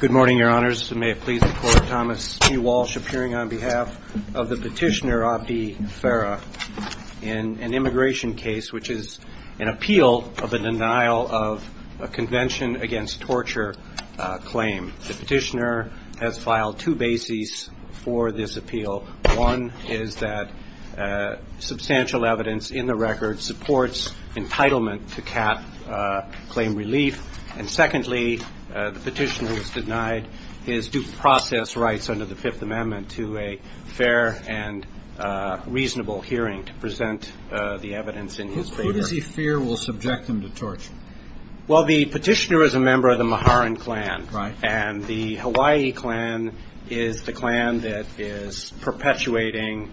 Good morning, your honors. May it please the court, Thomas E. Walsh appearing on behalf of the petitioner, Abdi Farah, in an immigration case which is an appeal of a denial of a convention against torture claim. The petitioner has filed two bases for this appeal. One is that substantial evidence in the record supports entitlement to cap claim relief. And secondly, the petitioner has denied his due process rights under the Fifth Amendment to a fair and reasonable hearing to present the evidence in his favor. Who does he fear will subject him to torture? Well, the petitioner is a member of the Maharan clan, and the Hawaii clan is the clan that is perpetuating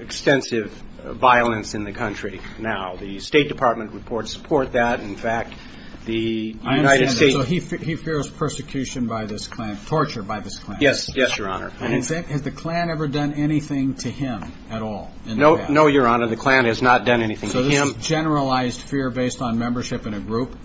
extensive violence in the country now. The State Department reports support that. In fact, the United States So he fears persecution by this clan, torture by this clan? Yes, yes, your honor. And has the clan ever done anything to him at all? No, no, your honor. The clan has not done anything to him. So this is a generalized fear based on membership in a group?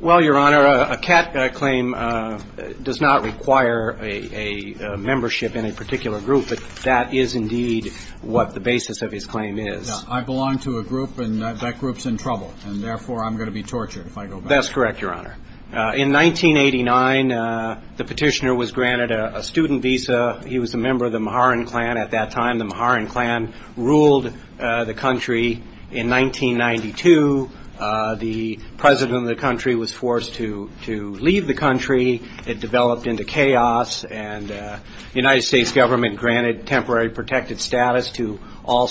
Well, your honor, a cap claim does not require a membership in a particular group, but that is indeed what the basis of his claim is. I belong to a group, and that group's in trouble, and therefore I'm going to be tortured if I go back. Well, that's correct, your honor. In 1989, the petitioner was granted a student visa. He was a member of the Maharan clan at that time. The Maharan clan ruled the country. In 1992, the president of the country was forced to leave the country. It developed into chaos, and the United States government granted temporary protected status to all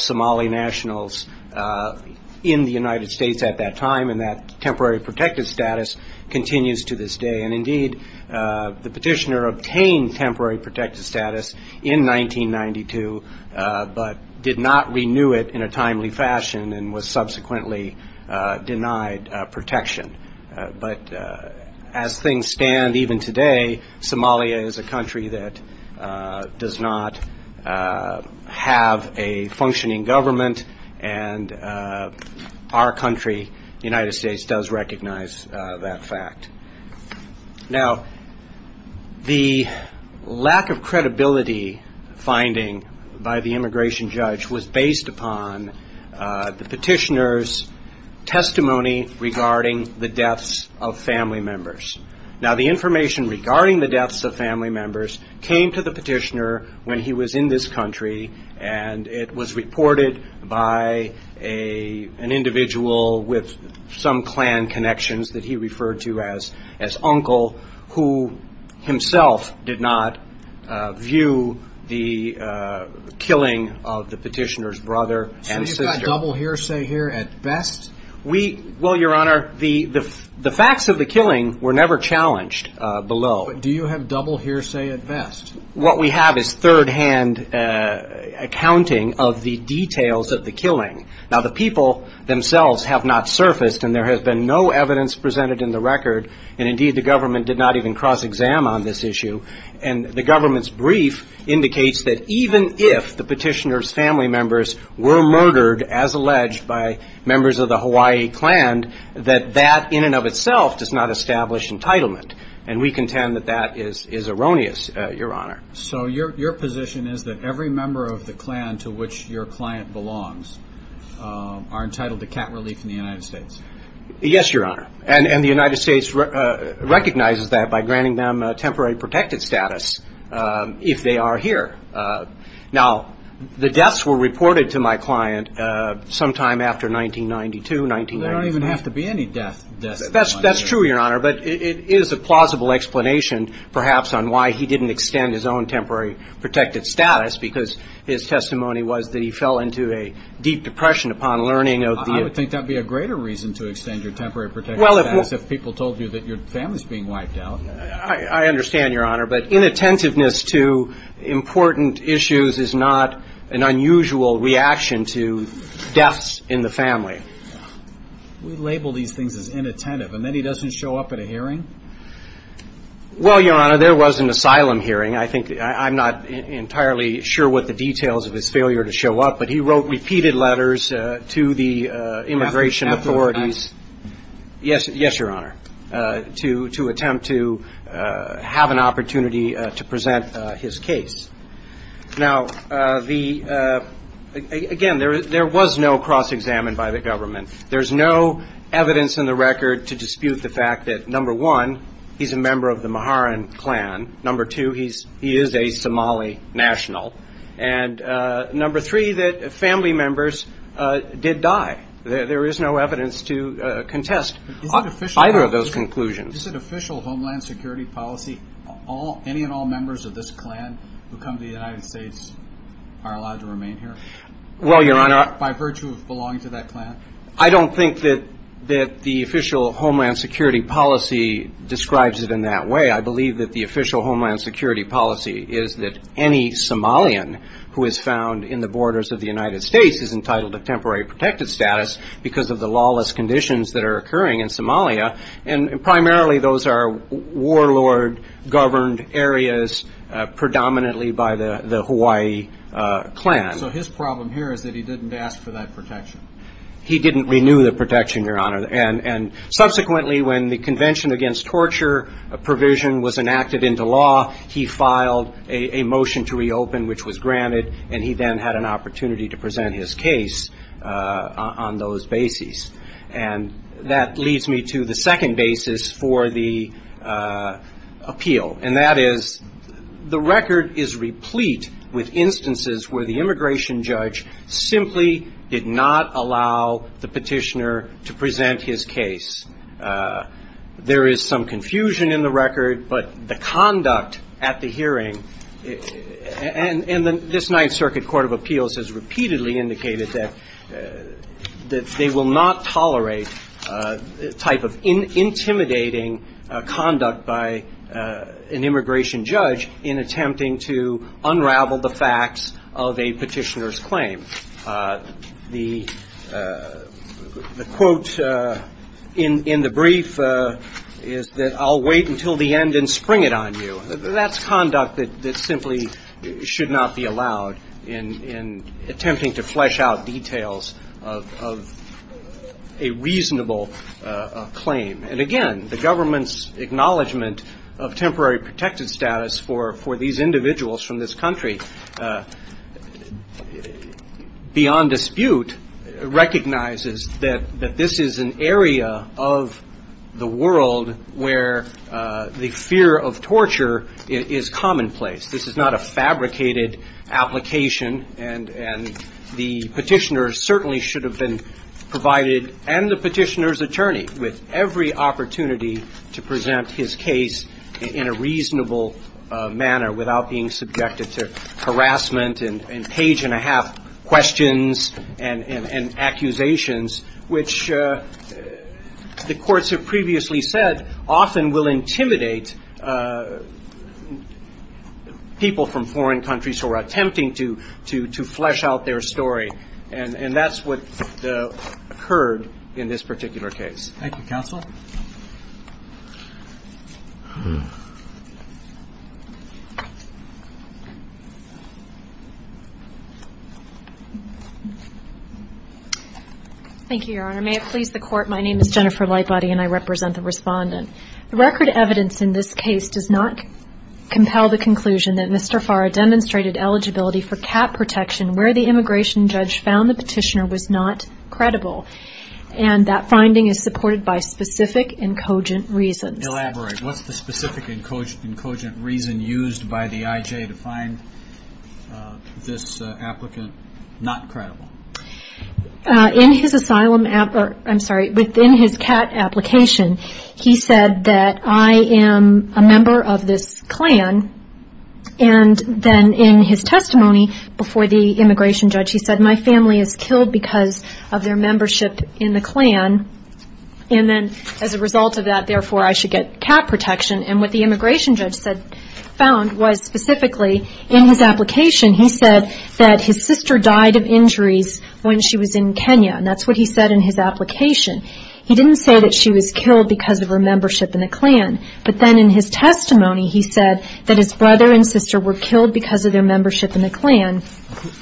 continues to this day. And indeed, the petitioner obtained temporary protected status in 1992, but did not renew it in a timely fashion and was subsequently denied protection. But as things stand even today, Somalia is a country that does not have a functioning government, and our country, the United States, does recognize that fact. Now the lack of credibility finding by the immigration judge was based upon the petitioner's testimony regarding the deaths of family members. Now the information regarding the deaths of family members is in this country, and it was reported by an individual with some clan connections that he referred to as uncle, who himself did not view the killing of the petitioner's brother and sister. So you've got double hearsay here at best? Well, your honor, the facts of the killing were never challenged below. Do you have double hearsay at best? What we have is third-hand accounting of the details of the killing. Now the people themselves have not surfaced, and there has been no evidence presented in the record, and indeed the government did not even cross-exam on this issue. And the government's brief indicates that even if the petitioner's family members were murdered, as alleged by members of the Hawaii clan, that that in and of itself does not establish entitlement. And we contend that that is erroneous, your honor. So your position is that every member of the clan to which your client belongs are entitled to cat relief in the United States? Yes, your honor. And the United States recognizes that by granting them temporary protected status if they are here. Now, the deaths were reported to my client sometime after 1992, 1995. There don't even have to be any deaths. That's true, your honor, but it is a plausible explanation perhaps on why he didn't extend his own temporary protected status, because his testimony was that he fell into a deep depression upon learning of the... I would think that would be a greater reason to extend your temporary protected status if people told you that your family is being wiped out. I understand, your honor, but inattentiveness to important issues is not an unusual reaction to deaths in the family. We label these things as inattentive, and then he doesn't show up at a hearing? Well, your honor, there was an asylum hearing. I think I'm not entirely sure what the details of his failure to show up, but he wrote repeated letters to the immigration authorities... After the fact. Yes, your honor, to attempt to have an opportunity to present his case. Now, again, there was no cross-examined by the government. There's no evidence in the record to dispute the fact that, number one, he's a member of the Maharan clan, number two, he is a Somali national, and number three, that family members did die. There is no evidence to contest either of those conclusions. Is it official homeland security policy, any and all members of this clan who come to the United States are allowed to remain here? Well, your honor... By virtue of belonging to that clan? I don't think that the official homeland security policy describes it in that way. I believe that the official homeland security policy is that any Somalian who is found in the borders of the United States is entitled to temporary protected status because of the lawless conditions that are occurring in Somalia, and primarily those are warlord-governed areas predominantly by the Hawaii clan. So his problem here is that he didn't ask for that protection? He didn't renew the protection, your honor, and subsequently, when the convention against torture provision was enacted into law, he filed a motion to reopen, which was granted, and he then had an opportunity to present his case on those bases. And that leads me to the second basis for the appeal, and that is the record is replete with instances where the immigration judge simply did not allow the petitioner to present his case. There is some confusion in the record, but the conduct at the hearing, and this Ninth Circuit Court of Appeals has repeatedly indicated that they will not tolerate type of intimidating conduct by an immigration judge in attempting to unravel the facts of a petitioner's claim. The quote in the brief is that I'll wait until the end and spring it on you. That's conduct that simply should not be allowed in attempting to flesh out details of a reasonable claim. And again, the government's acknowledgement of temporary protected status for these individuals from this country, beyond dispute, recognizes that this is an area of the world where the fear of torture is commonplace. This is not a fabricated application, and the petitioner certainly should have been provided, and the petitioner's attorney, with every opportunity to present his case in a reasonable manner without being subjected to harassment and page-and-a-half questions and accusations, which the courts have previously said often will intimidate people from foreign countries who are attempting to flesh out their story, and that's what occurred in this particular case. Thank you, Counsel. Thank you, Your Honor. May it please the Court, my name is Jennifer Lightbody, and I represent the Respondent. The record evidence in this case does not compel the conclusion that Mr. Farr demonstrated eligibility for cap protection where the immigration judge found the petitioner was not credible, and that finding is supported by specific and cogent reasons. Elaborate. What's the specific and cogent reason used by the IJ to find this applicant not credible? In his asylum, I'm sorry, within his CAT application, he said that I am a member of this clan, and then in his testimony before the immigration judge, he said my family is killed because of their membership in the clan, and then as a result of that, therefore, I should get cap protection. And what the immigration judge found was specifically in his application, he said that his sister died of injuries when she was in Kenya, and that's what he said in his application. He didn't say that she was killed because of her membership in the clan, but then in his testimony, he said that his brother and sister were killed because of their membership in the clan,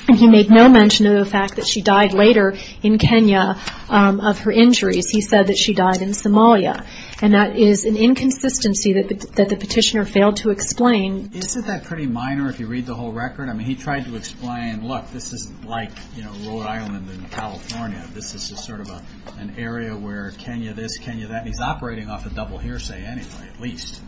and he made no mention of the fact that she died later in Kenya of her injuries. He said that she died in Somalia, and that is an inconsistency that the petitioner failed to explain. Isn't that pretty minor if you read the whole record? I mean, he tried to explain, look, this is like, you know, Rhode Island and California. This is sort of an area where Kenya this, Kenya that, and he's operating off a double hearsay anyway, at least.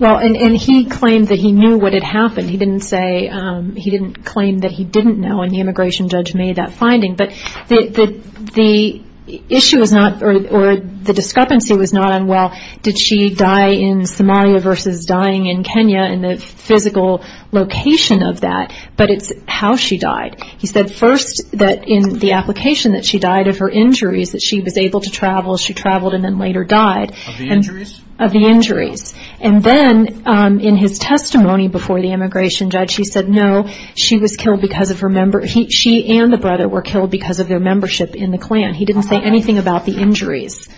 Well, and he claimed that he knew what had happened. He didn't say, he didn't claim that he didn't know, and the immigration judge made that finding, but the issue was not, or the discrepancy was not on, well, did she die in Somalia versus dying in Kenya and the physical location of that, but it's how she died. He said first that in the application that she died of her injuries, that she was able to travel, she traveled and then later died. Of the injuries? Of the injuries, and then in his testimony before the immigration judge, he said no, she was killed because of her, she and the brother were killed because of their membership in the clan. He didn't say anything about the injuries.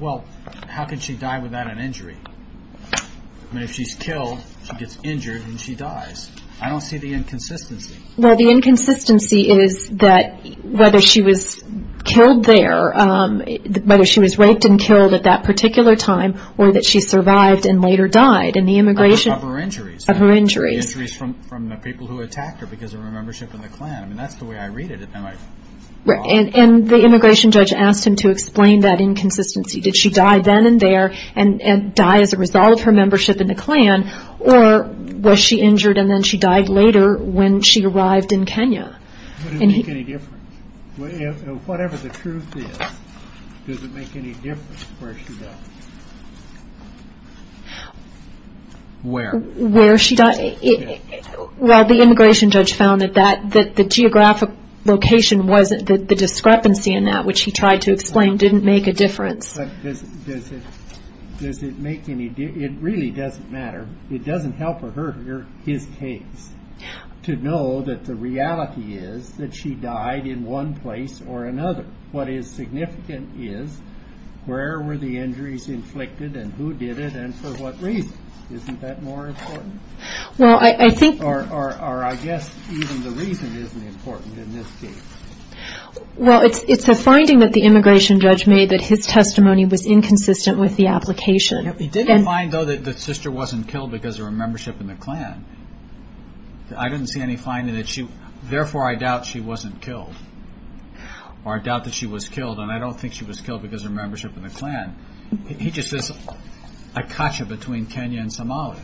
Well, how could she die without an injury? I mean, if she's killed, she gets injured, and she dies. I don't see the inconsistency. Well, the inconsistency is that whether she was killed there, whether she was raped and killed at that particular time, or that she survived and later died in the immigration. Of her injuries. Of her injuries. The injuries from the people who attacked her because of her membership in the clan. I mean, that's the way I read it. And the immigration judge asked him to explain that inconsistency. Did she die then and there and die as a result of her membership in the clan, or was she injured and then she died later when she arrived in Kenya? Does it make any difference? Whatever the truth is, does it make any difference where she died? Where? Where she died. Well, the immigration judge found that the geographic location, the discrepancy in that, which he tried to explain, didn't make a difference. It really doesn't matter. It doesn't help her or his case to know that the reality is that she died in one place or another. What is significant is where were the injuries inflicted and who did it and for what reason? Isn't that more important? Well, I think. Or I guess even the reason isn't important in this case. Well, it's a finding that the immigration judge made that his testimony was inconsistent with the application. He did find, though, that the sister wasn't killed because of her membership in the clan. I didn't see any finding that she, therefore, I doubt she wasn't killed. Or I doubt that she was killed, and I don't think she was killed because of her membership in the clan. He just says, I caught you between Kenya and Somalia.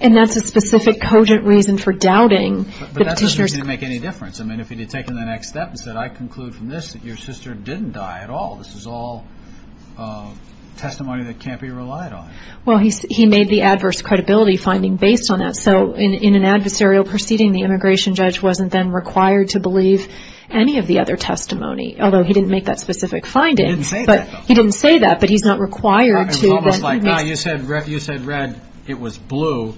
And that's a specific, cogent reason for doubting the petitioner's claim. It didn't make any difference. I mean, if he had taken the next step and said, I conclude from this that your sister didn't die at all, this is all testimony that can't be relied on. Well, he made the adverse credibility finding based on that. So in an adversarial proceeding, the immigration judge wasn't then required to believe any of the other testimony, although he didn't make that specific finding. He didn't say that, though. He didn't say that, but he's not required to. It was almost like, no, you said red. It was blue,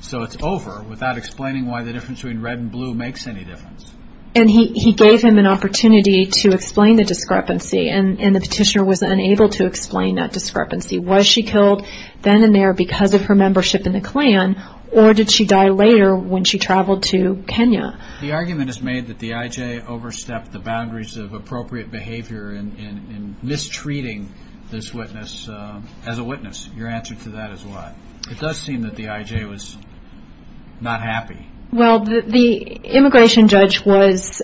so it's over, without explaining why the difference between red and blue makes any difference. And he gave him an opportunity to explain the discrepancy, and the petitioner was unable to explain that discrepancy. Was she killed then and there because of her membership in the clan, or did she die later when she traveled to Kenya? The argument is made that the IJ overstepped the boundaries of appropriate behavior in mistreating this witness as a witness. Your answer to that is what? It does seem that the IJ was not happy. Well, the immigration judge was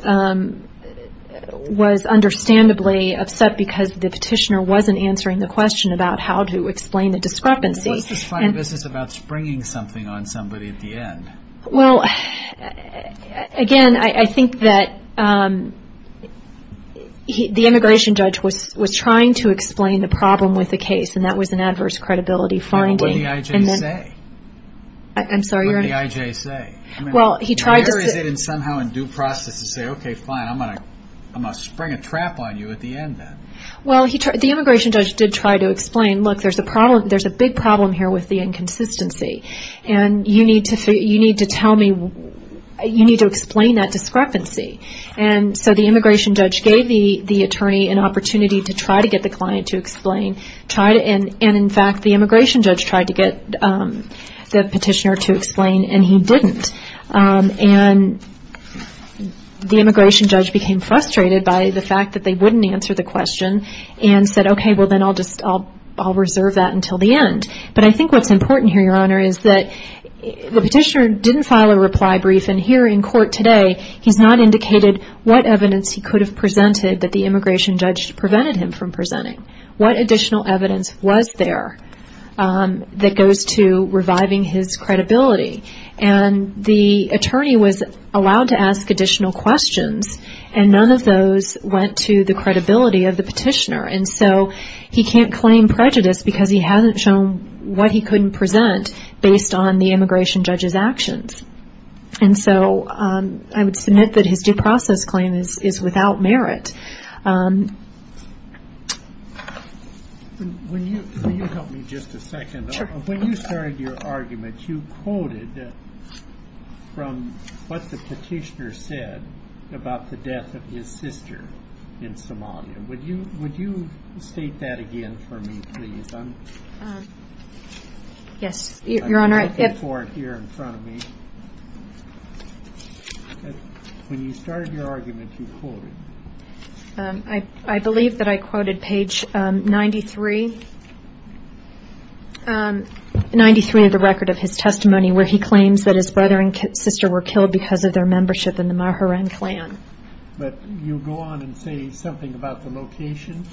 understandably upset because the petitioner wasn't answering the question about how to explain the discrepancy. This is about springing something on somebody at the end. Well, again, I think that the immigration judge was trying to explain the problem with the case, and that was an adverse credibility finding. What did the IJ say? I'm sorry? What did the IJ say? Well, he tried to... Where is it somehow in due process to say, okay, fine, I'm going to spring a trap on you at the end then? Well, the immigration judge did try to explain, look, there's a big problem here with the inconsistency, and you need to explain that discrepancy. And so the immigration judge gave the attorney an opportunity to try to get the client to explain, and, in fact, the immigration judge tried to get the petitioner to explain, and he didn't. And the immigration judge became frustrated by the fact that they wouldn't answer the question and said, okay, well then I'll reserve that until the end. But I think what's important here, Your Honor, is that the petitioner didn't file a reply brief, and here in court today he's not indicated what evidence he could have presented that the immigration judge prevented him from presenting. What additional evidence was there that goes to reviving his credibility? And the attorney was allowed to ask additional questions, and none of those went to the credibility of the petitioner. And so he can't claim prejudice because he hasn't shown what he couldn't present based on the immigration judge's actions. And so I would submit that his due process claim is without merit. Can you help me just a second? Sure. When you started your argument, you quoted from what the petitioner said about the death of his sister in Somalia. Would you state that again for me, please? Yes, Your Honor. I'm looking for it here in front of me. When you started your argument, you quoted. I believe that I quoted page 93 of the record of his testimony where he claims that his brother and sister were killed because of their membership in the Maheran clan. But you go on and say something about the location.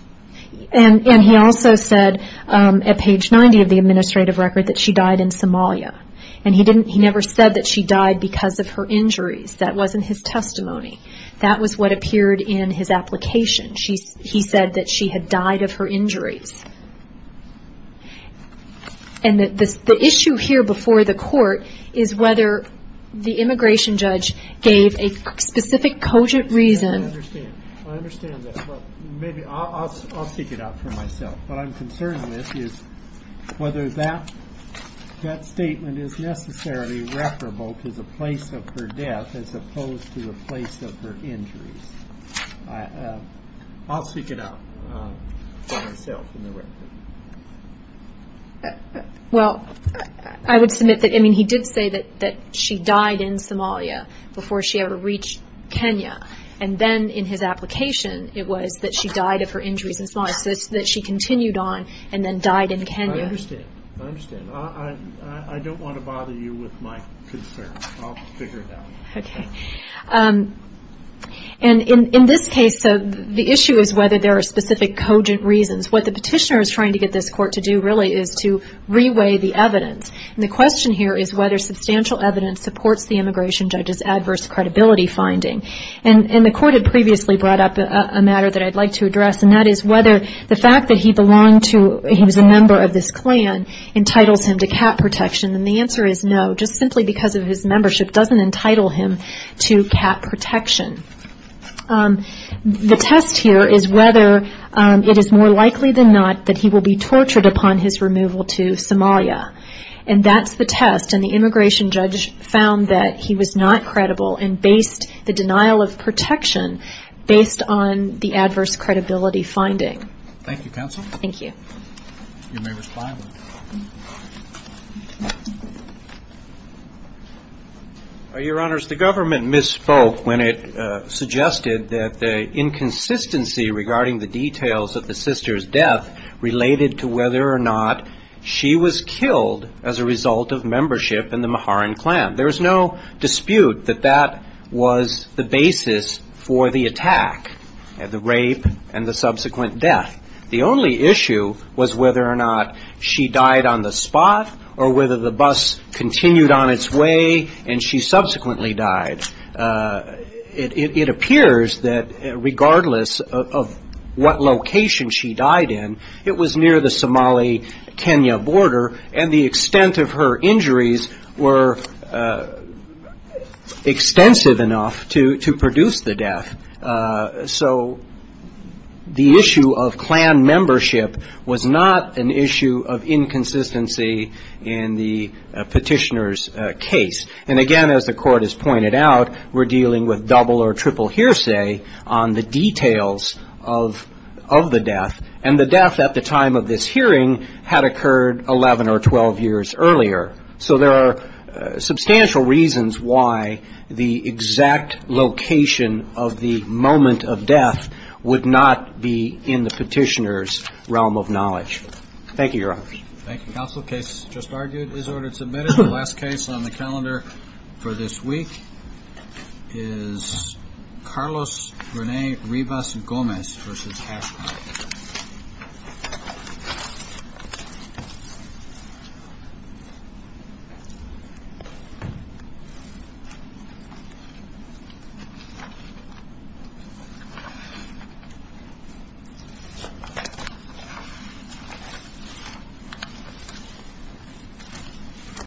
And he also said at page 90 of the administrative record that she died in Somalia. And he never said that she died because of her injuries. That wasn't his testimony. That was what appeared in his application. He said that she had died of her injuries. And the issue here before the court is whether the immigration judge gave a specific cogent reason. I understand that. Maybe I'll speak it out for myself. What I'm concerned with is whether that statement is necessarily referable to the place of her death as opposed to the place of her injuries. I'll speak it out for myself in the record. Well, I would submit that he did say that she died in Somalia before she ever reached Kenya. And then in his application it was that she died of her injuries in Somalia. So it's that she continued on and then died in Kenya. I understand. I understand. I don't want to bother you with my concerns. I'll figure it out. Okay. And in this case, the issue is whether there are specific cogent reasons. What the petitioner is trying to get this court to do really is to reweigh the evidence. And the question here is whether substantial evidence supports the immigration judge's adverse credibility finding. And the court had previously brought up a matter that I'd like to address, and that is whether the fact that he was a member of this clan entitles him to cat protection. And the answer is no. Just simply because of his membership doesn't entitle him to cat protection. The test here is whether it is more likely than not that he will be tortured upon his removal to Somalia. And that's the test. And the immigration judge found that he was not credible and based the denial of protection based on the adverse credibility finding. Thank you, Counsel. Thank you. You may respond. Your Honors, the government misspoke when it suggested that the inconsistency regarding the details of the sister's death related to whether or not she was killed as a result of membership in the Maharan clan. There is no dispute that that was the basis for the attack and the rape and the subsequent death. The only issue was whether or not she died on the spot or whether the bus continued on its way and she subsequently died. It appears that regardless of what location she died in, it was near the Somali-Kenya border, and the extent of her injuries were extensive enough to produce the death. So the issue of clan membership was not an issue of inconsistency in the petitioner's case. And, again, as the Court has pointed out, we're dealing with double or triple hearsay on the details of the death. And the death at the time of this hearing had occurred 11 or 12 years earlier. So there are substantial reasons why the exact location of the moment of death would not be in the petitioner's realm of knowledge. Thank you, Your Honors. Thank you, Counsel. The case just argued is ordered submitted. The last case on the calendar for this week is Carlos Rene Rivas-Gomez v. Casper.